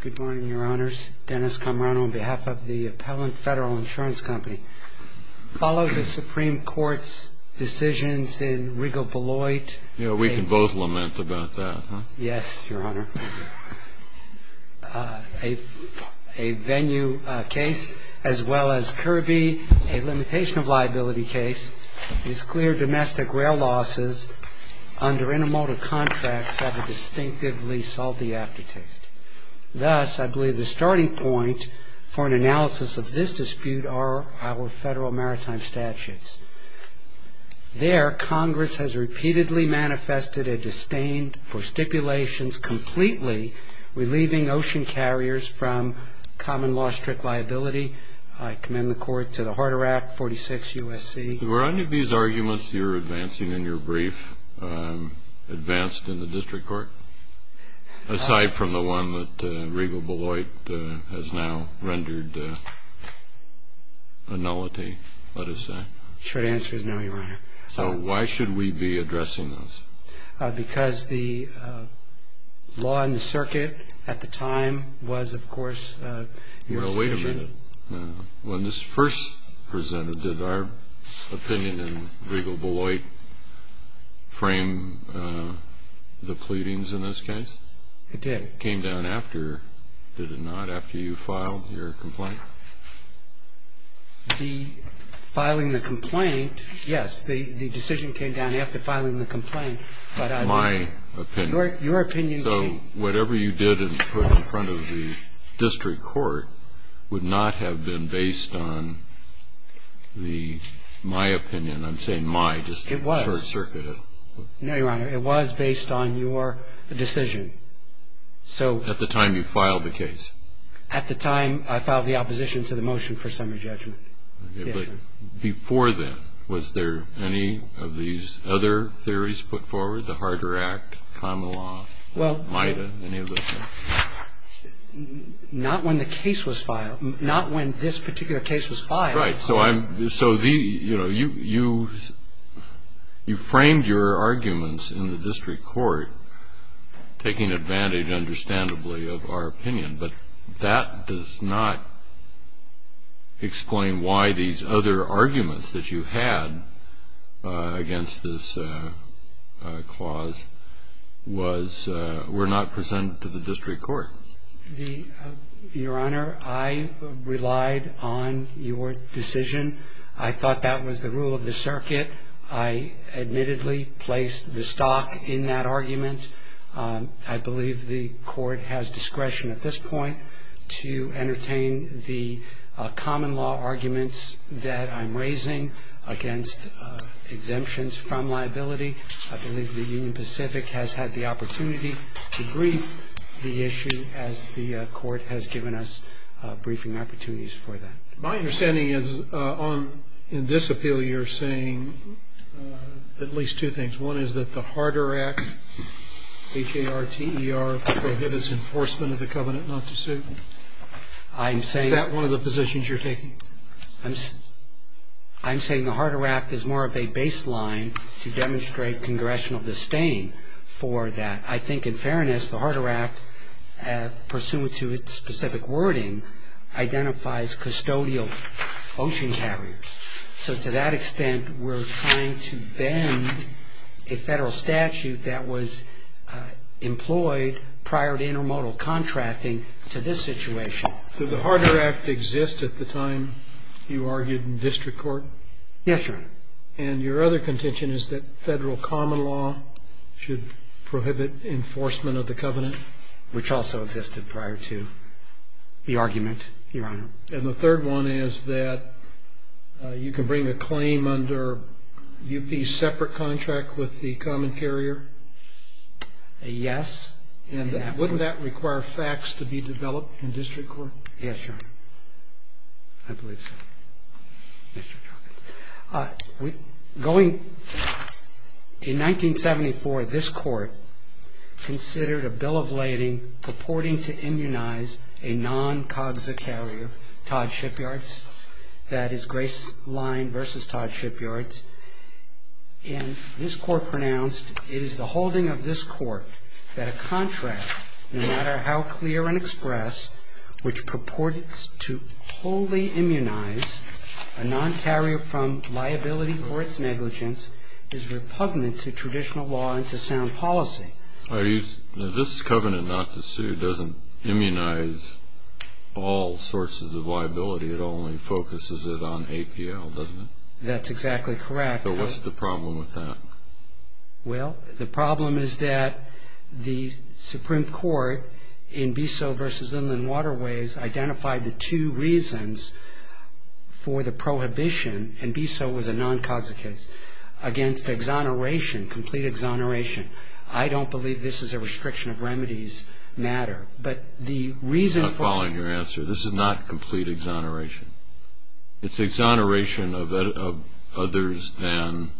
Good morning, your honors. Dennis Camarano on behalf of the Appellant Federal Insurance Company. Follow the Supreme Court's decisions in Rigo-Beloit. Yeah, we can both lament about that, huh? Yes, your honor. A venue case, as well as Kirby, a limitation of liability case, these clear domestic rail losses under intermodal contracts have distinctively solved the aftertaste. Thus, I believe the starting point for an analysis of this dispute are our federal maritime statutes. There, Congress has repeatedly manifested a disdain for stipulations completely relieving ocean carriers from common law strict liability. I commend the court to the Harder Act, 46 U.S.C. Were any of these arguments you're advancing in your brief advanced in the district court, aside from the one that Rigo-Beloit has now rendered a nullity, let us say? Short answer is no, your honor. So why should we be addressing those? Because the law in the circuit at the time was, of course, your decision. When this first presented, did our opinion in Rigo-Beloit frame the pleadings in this case? It did. Came down after, did it not, after you filed your complaint? The filing the complaint, yes, the decision came down after filing the complaint. My opinion. Your opinion came. So whatever you did and put in front of the district court would not have been based on the, my opinion. I'm saying my district court circuit. It was. No, your honor. It was based on your decision. At the time you filed the case? At the time I filed the opposition to the motion for summary judgment. Before then, was there any of these other theories put forward? The Harder Act, common law, MIDA, any of those? Not when the case was filed. Not when this particular case was filed. Right. So you framed your arguments in the district court, taking advantage, understandably, of our opinion. But that does not explain why these other arguments that you had against this clause was, were not presented to the district court. Your honor, I relied on your decision. I thought that was the rule of the circuit. I admittedly placed the stock in that argument. I believe the court has discretion at this point to entertain the common law arguments that I'm raising against exemptions from liability. I believe the Union Pacific has had the opportunity to brief the issue as the court has given us briefing opportunities for that. My understanding is on, in this appeal, you're saying at least two things. One is that the Harder Act, H-A-R-T-E-R, prohibits enforcement of the covenant not to sue. Is that one of the positions you're taking? I'm saying the Harder Act is more of a baseline to demonstrate congressional disdain for that. I think, in fairness, the Harder Act, pursuant to its specific wording, identifies custodial ocean carriers. So to that extent, we're trying to bend a federal statute that was employed prior to intermodal contracting to this situation. Did the Harder Act exist at the time you argued in district court? Yes, Your Honor. And your other contention is that federal common law should prohibit enforcement of the covenant? Which also existed prior to the argument, Your Honor. And the third one is that you can bring a claim under U.P.'s separate contract with the common carrier? Yes. And wouldn't that require facts to be developed in district court? Yes, Your Honor. I believe so. In 1974, this Court considered a bill of lading purporting to immunize a non-COGSA carrier, Todd Shipyards. That is Grace Line v. Todd Shipyards. And this Court pronounced it is the holding of this Court that a contract, no matter how clear and express, which purported to wholly immunize a non-carrier from liability for its negligence, is repugnant to traditional law and to sound policy. This covenant not to sue doesn't immunize all sources of liability. It only focuses it on APL, doesn't it? That's exactly correct. So what's the problem with that? Well, the problem is that the Supreme Court in Bissell v. Inland Waterways identified the two reasons for the prohibition, and Bissell was a non-COGSA case, against exoneration, complete exoneration. I don't believe this is a restriction of remedies matter. But the reason for... I'm not following your answer. This is not complete exoneration. It's exoneration of others than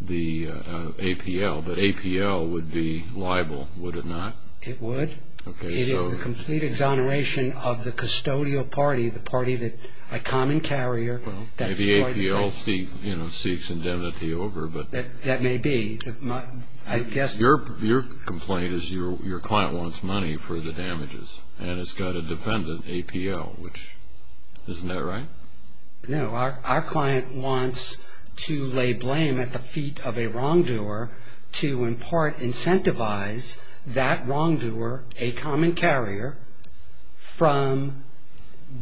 the APL, but APL would be liable, would it not? It would. Okay, so... It is the complete exoneration of the custodial party, the party that a common carrier... Well, maybe APL seeks indemnity over, but... That may be. I guess... Your complaint is your client wants money for the damages, and it's got a defendant, APL, which, isn't that right? No, our client wants to lay blame at the feet of a wrongdoer to, in part, incentivize that wrongdoer, a common carrier, from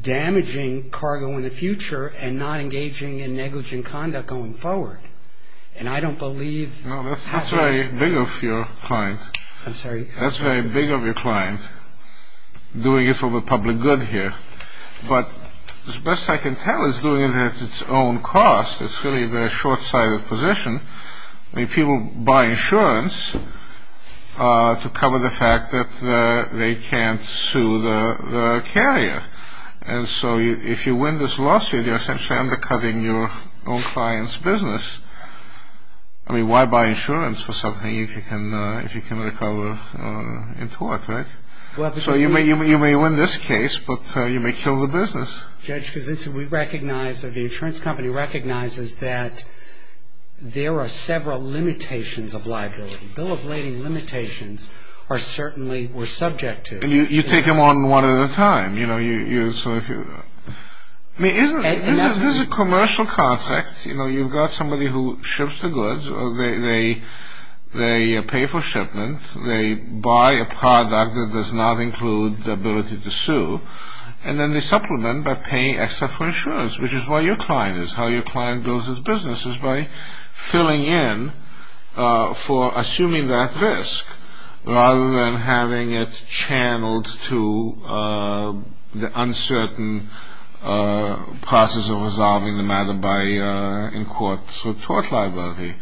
damaging cargo in the future and not engaging in negligent conduct going forward. And I don't believe... That's very big of your client. I'm sorry? That's very big of your client, doing it for the public good here. But as best I can tell, it's doing it at its own cost. It's really the short-sighted position. I mean, people buy insurance to cover the fact that they can't sue the carrier. And so if you win this lawsuit, you're essentially undercutting your own client's business. I mean, why buy insurance for something if you can recover in tort, right? So you may win this case, but you may kill the business. Judge, because we recognize, or the insurance company recognizes, that there are several limitations of liability. Bill of lading limitations are certainly subject to... And you take them on one at a time. I mean, this is a commercial contract. You know, you've got somebody who ships the goods. They pay for shipment. They buy a product that does not include the ability to sue. And then they supplement by paying extra for insurance, which is why your client is. How your client builds his business is by filling in for assuming that risk, rather than having it channeled to the uncertain process of resolving the matter in court. So tort liability.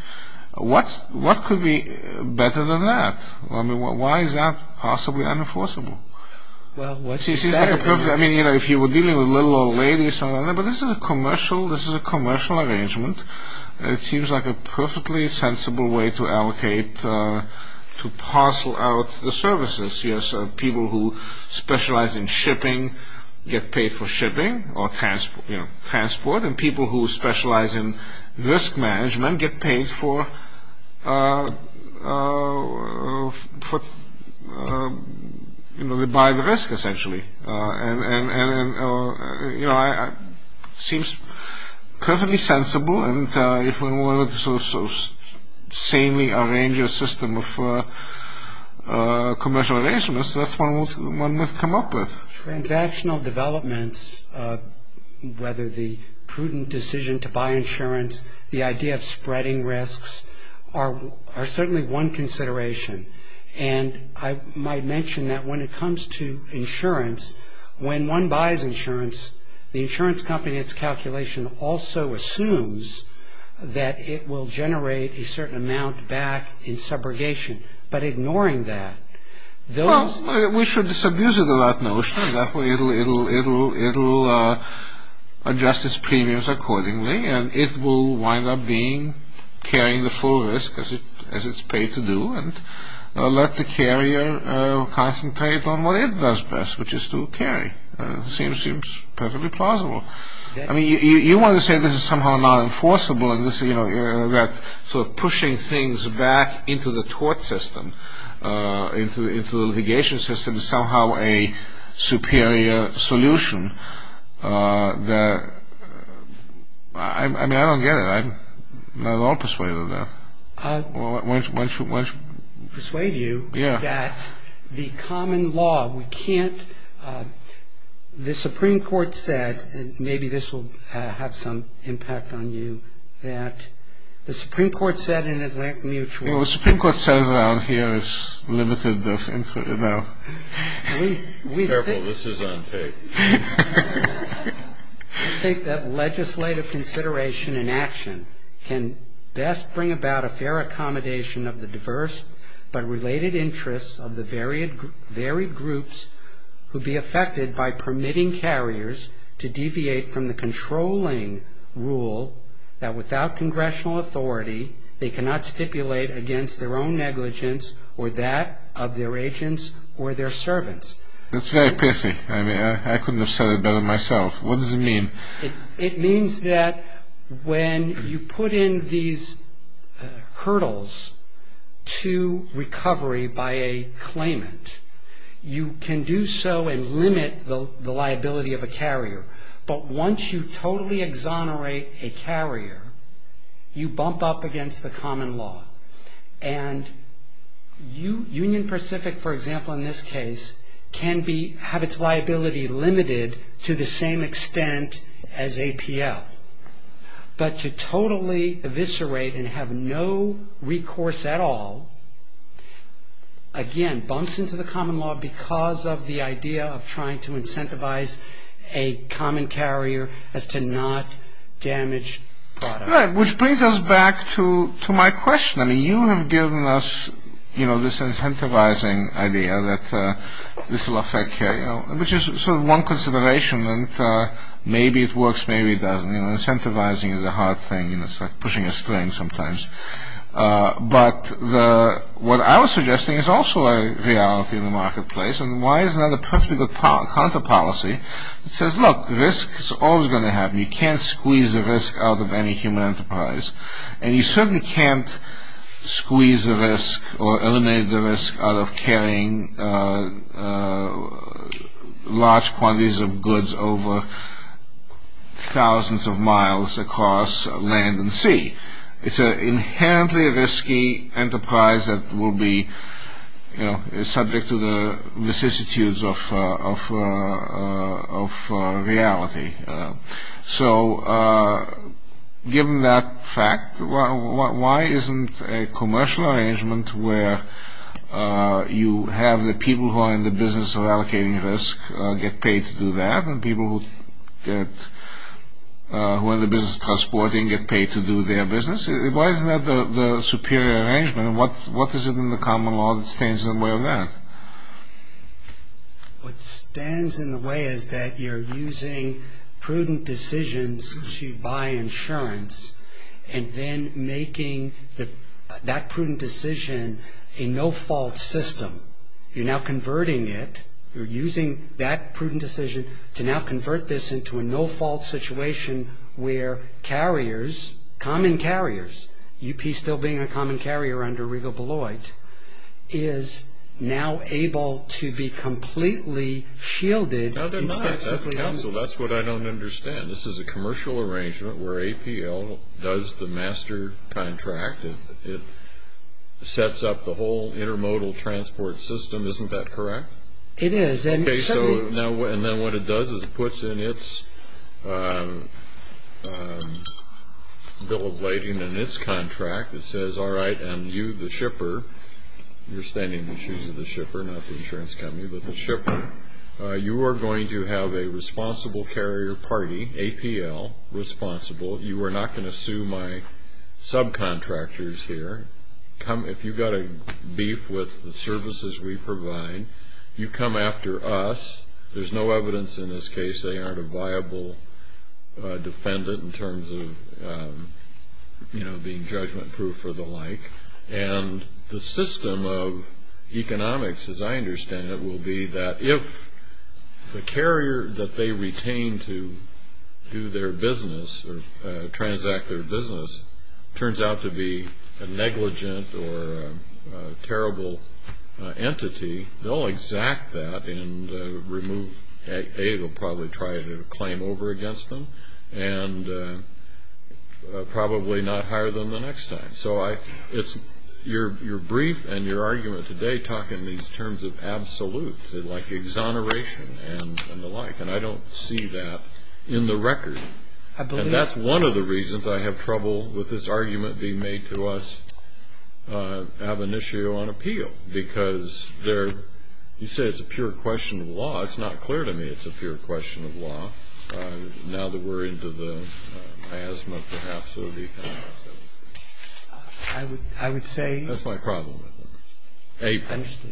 What could be better than that? I mean, why is that possibly unenforceable? Well, what's better than that? I mean, you know, if you were dealing with a little old lady or something like that. But this is a commercial arrangement. It seems like a perfectly sensible way to allocate, to parcel out the services. Yes, people who specialize in shipping get paid for shipping or transport. And people who specialize in risk management get paid for... You know, they buy the risk, essentially. And, you know, it seems perfectly sensible. And if we wanted to sort of sanely arrange a system of commercial arrangements, that's one we've come up with. Transactional developments, whether the prudent decision to buy insurance, the idea of spreading risks, are certainly one consideration. And I might mention that when it comes to insurance, when one buys insurance, the insurance company in its calculation also assumes that it will generate a certain amount back in subrogation. But ignoring that, those... Well, we should disabuse it of that notion. That way it'll adjust its premiums accordingly, and it will wind up carrying the full risk, as it's paid to do. And let the carrier concentrate on what it does best, which is to carry. It seems perfectly plausible. I mean, you want to say this is somehow non-enforceable, and that sort of pushing things back into the tort system, into the litigation system, is somehow a superior solution. I mean, I don't get it. I'm not at all persuaded of that. Why don't you... Persuade you that the common law, we can't... The Supreme Court said, and maybe this will have some impact on you, that the Supreme Court said in Atlantic Mutual... Well, the Supreme Court says around here it's limited... Careful, this is on tape. I think that legislative consideration and action can best bring about a fair accommodation of the diverse but related interests of the varied groups who'd be affected by permitting carriers to deviate from the controlling rule that without congressional authority they cannot stipulate against their own negligence or that of their agents or their servants. That's very pathetic. I mean, I couldn't have said it better myself. What does it mean? It means that when you put in these hurdles to recovery by a claimant, you can do so and limit the liability of a carrier. But once you totally exonerate a carrier, you bump up against the common law. And Union Pacific, for example, in this case, can have its liability limited to the same extent as APL. But to totally eviscerate and have no recourse at all, again, bumps into the common law because of the idea of trying to incentivize a common carrier as to not damage products. Right, which brings us back to my question. I mean, you have given us this incentivizing idea that this will affect carriers, which is sort of one consideration, and maybe it works, maybe it doesn't. Incentivizing is a hard thing, and it's like pushing a string sometimes. But what I was suggesting is also a reality in the marketplace, and why is that a perfectly good counter-policy? It says, look, risk is always going to happen. You can't squeeze the risk out of any human enterprise, and you certainly can't squeeze the risk or eliminate the risk out of carrying large quantities of goods over thousands of miles across land and sea. It's an inherently risky enterprise that will be subject to the vicissitudes of reality. So given that fact, why isn't a commercial arrangement where you have the people who are in the business of allocating risk get paid to do that, and people who are in the business of transporting get paid to do their business? Why isn't that the superior arrangement, and what is it in the common law that stands in the way of that? What stands in the way is that you're using prudent decisions to buy insurance and then making that prudent decision a no-fault system. You're now converting it. You're using that prudent decision to now convert this into a no-fault situation where carriers, common carriers, UP still being a common carrier under Regal-Beloit, is now able to be completely shielded. No, they're not. That's what I don't understand. This is a commercial arrangement where APL does the master contract. It sets up the whole intermodal transport system. Isn't that correct? It is. And then what it does is it puts in its bill of lading and its contract that says, all right, and you, the shipper, you're standing in the shoes of the shipper, not the insurance company, but the shipper, you are going to have a responsible carrier party, APL, responsible. You are not going to sue my subcontractors here. If you've got a beef with the services we provide, you come after us. There's no evidence in this case they aren't a viable defendant in terms of, you know, being judgment-proof or the like. And the system of economics, as I understand it, will be that if the carrier that they retain to do their business or transact their business turns out to be a negligent or a terrible entity, they'll exact that and remove, A, they'll probably try to claim over against them and probably not hire them the next time. So your brief and your argument today talk in these terms of absolute, like exoneration and the like, and I don't see that in the record. And that's one of the reasons I have trouble with this argument being made to us ab initio on appeal, because you say it's a pure question of law. It's not clear to me it's a pure question of law. Now that we're into the miasma, perhaps, of the economics of it. That's my problem with it.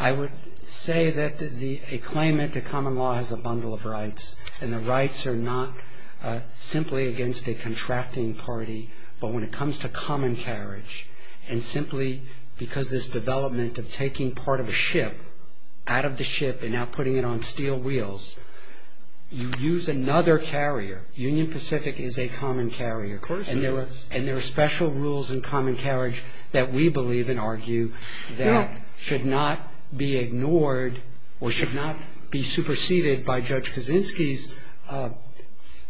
I would say that a claimant to common law has a bundle of rights, and the rights are not simply against a contracting party. But when it comes to common carriage and simply because this development of taking part of a ship, out of the ship and now putting it on steel wheels, you use another carrier. Union Pacific is a common carrier. And there are special rules in common carriage that we believe and argue that should not be ignored or should not be superseded by Judge Kaczynski's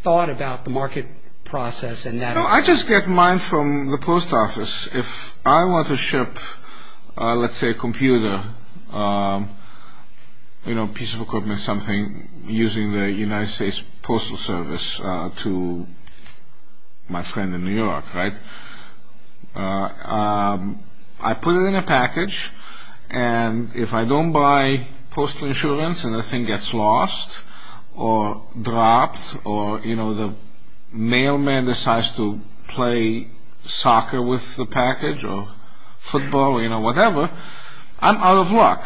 thought about the market process. I just get mine from the post office. If I want to ship, let's say, a computer, you know, a piece of equipment, something, using the United States Postal Service to my friend in New York, right? I put it in a package, and if I don't buy postal insurance and the thing gets lost or dropped or, you know, the mailman decides to play soccer with the package or football, you know, whatever, I'm out of luck.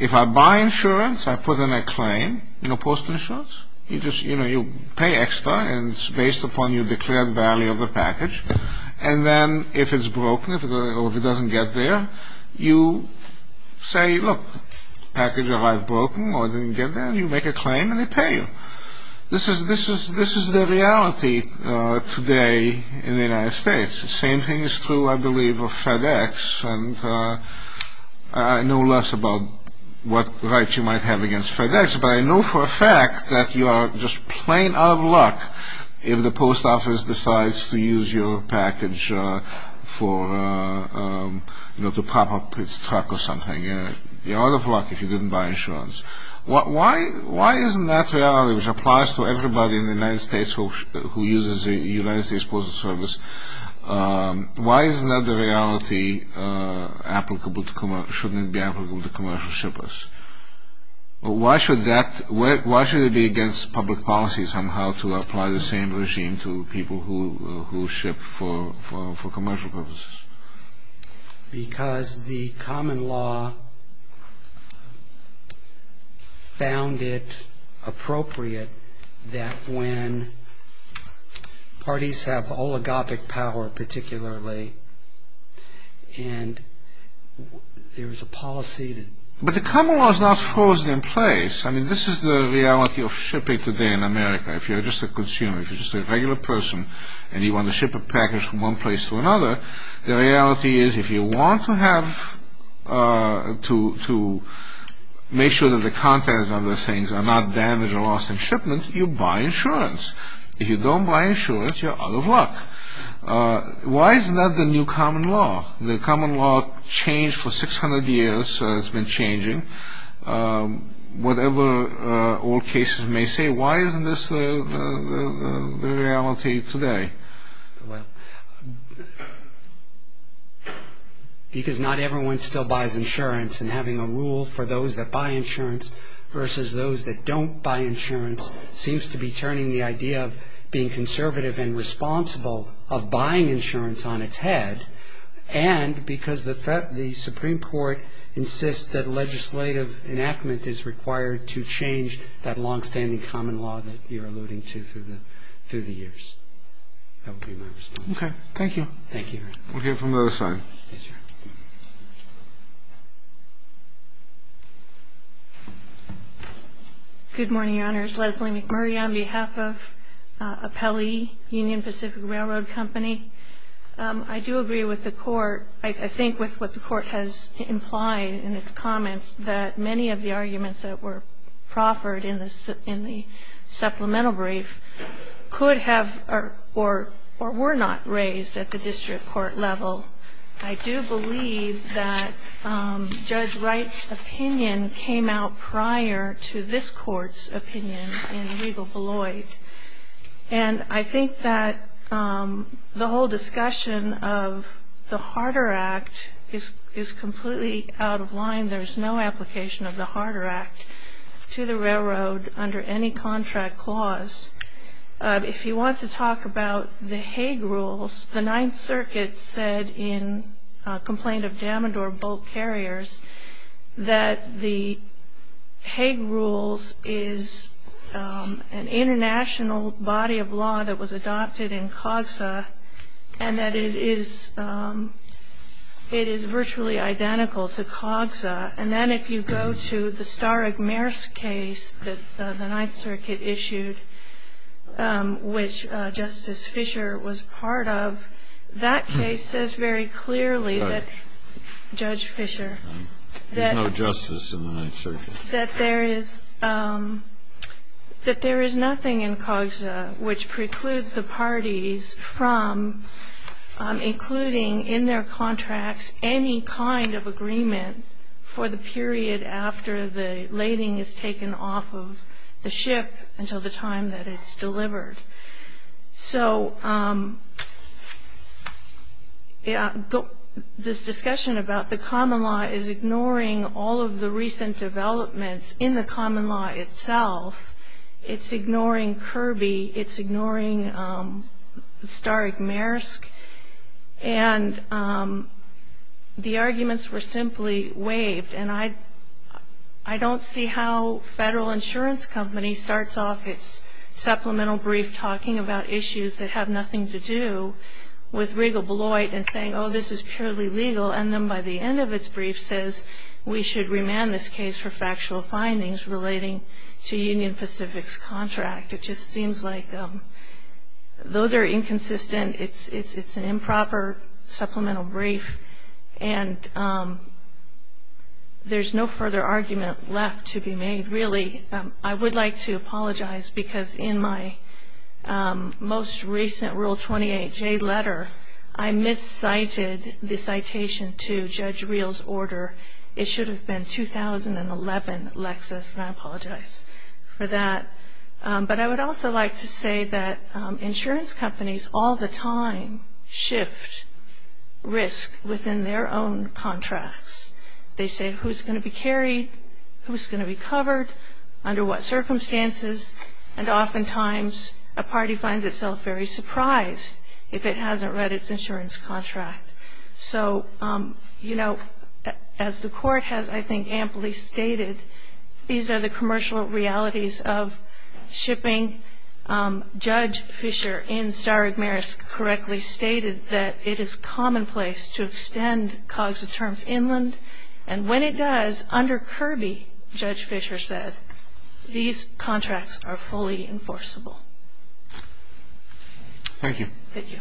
If I buy insurance, I put in a claim, you know, postal insurance, you just, you know, you pay extra and it's based upon your declared value of the package. And then if it's broken or if it doesn't get there, you say, look, package arrived broken or didn't get there, and you make a claim and they pay you. This is the reality today in the United States. The same thing is true, I believe, of FedEx. And I know less about what rights you might have against FedEx, but I know for a fact that you are just plain out of luck if the post office decides to use your package for, you know, to pop up its truck or something. You're out of luck if you didn't buy insurance. Why isn't that reality, which applies to everybody in the United States who uses the United States Postal Service, why isn't that the reality, shouldn't it be applicable to commercial shippers? Why should it be against public policy somehow to apply the same regime to people who ship for commercial purposes? Because the common law found it appropriate that when parties have oligarchic power, particularly, and there is a policy that... But the common law is not frozen in place. I mean, this is the reality of shipping today in America. If you're just a consumer, if you're just a regular person and you want to ship a package from one place to another, the reality is if you want to have, to make sure that the contents of those things are not damaged or lost in shipment, you buy insurance. If you don't buy insurance, you're out of luck. Why isn't that the new common law? The common law changed for 600 years. It's been changing. Whatever old cases may say, why isn't this the reality today? Well, because not everyone still buys insurance, and having a rule for those that buy insurance versus those that don't buy insurance seems to be turning the idea of being conservative and responsible of buying insurance on its head, and because the Supreme Court insists that legislative enactment is required to change that longstanding common law that you're alluding to through the years. I hope you understand. Okay. Thank you. Thank you. We'll hear from the other side. Yes, ma'am. Good morning, Your Honors. Leslie McMurray on behalf of Apelli Union Pacific Railroad Company. I do agree with the Court, I think with what the Court has implied in its comments, that many of the arguments that were proffered in the supplemental brief could have or were not raised at the district court level I do believe that Judge Wright's opinion came out prior to this Court's opinion in legal beloit. And I think that the whole discussion of the Harder Act is completely out of line. There's no application of the Harder Act to the railroad under any contract clause. If you want to talk about the Hague Rules, the Ninth Circuit said in a complaint of Damandor Bolt Carriers that the Hague Rules is an international body of law that was adopted in COGSA, and that it is virtually identical to COGSA. And then if you go to the Starek-Mers case that the Ninth Circuit issued, which Justice Fisher was part of, that case says very clearly that there is nothing in COGSA which precludes the parties from including in their contracts any kind of agreement for the period after the lading is taken off of the ship until the time that it's delivered. So this discussion about the common law is ignoring all of the recent developments in the common law itself. It's ignoring Kirby. It's ignoring Starek-Mers. And the arguments were simply waived. And I don't see how Federal Insurance Company starts off its supplemental brief talking about issues that have nothing to do with Regal Bloit and saying, oh, this is purely legal, and then by the end of its brief says we should remand this case for factual findings relating to Union Pacific's contract. It just seems like those are inconsistent. It's an improper supplemental brief, and there's no further argument left to be made, really. I would like to apologize because in my most recent Rule 28J letter, I miscited the citation to Judge Reel's order. It should have been 2011, Lexis, and I apologize for that. But I would also like to say that insurance companies all the time shift risk within their own contracts. They say who's going to be carried, who's going to be covered, under what circumstances, and oftentimes a party finds itself very surprised if it hasn't read its insurance contract. So, you know, as the Court has, I think, amply stated, these are the commercial realities of shipping. Judge Fischer in Staragmaris correctly stated that it is commonplace to extend COGS terms inland, and when it does, under Kirby, Judge Fischer said, these contracts are fully enforceable. Thank you. Thank you.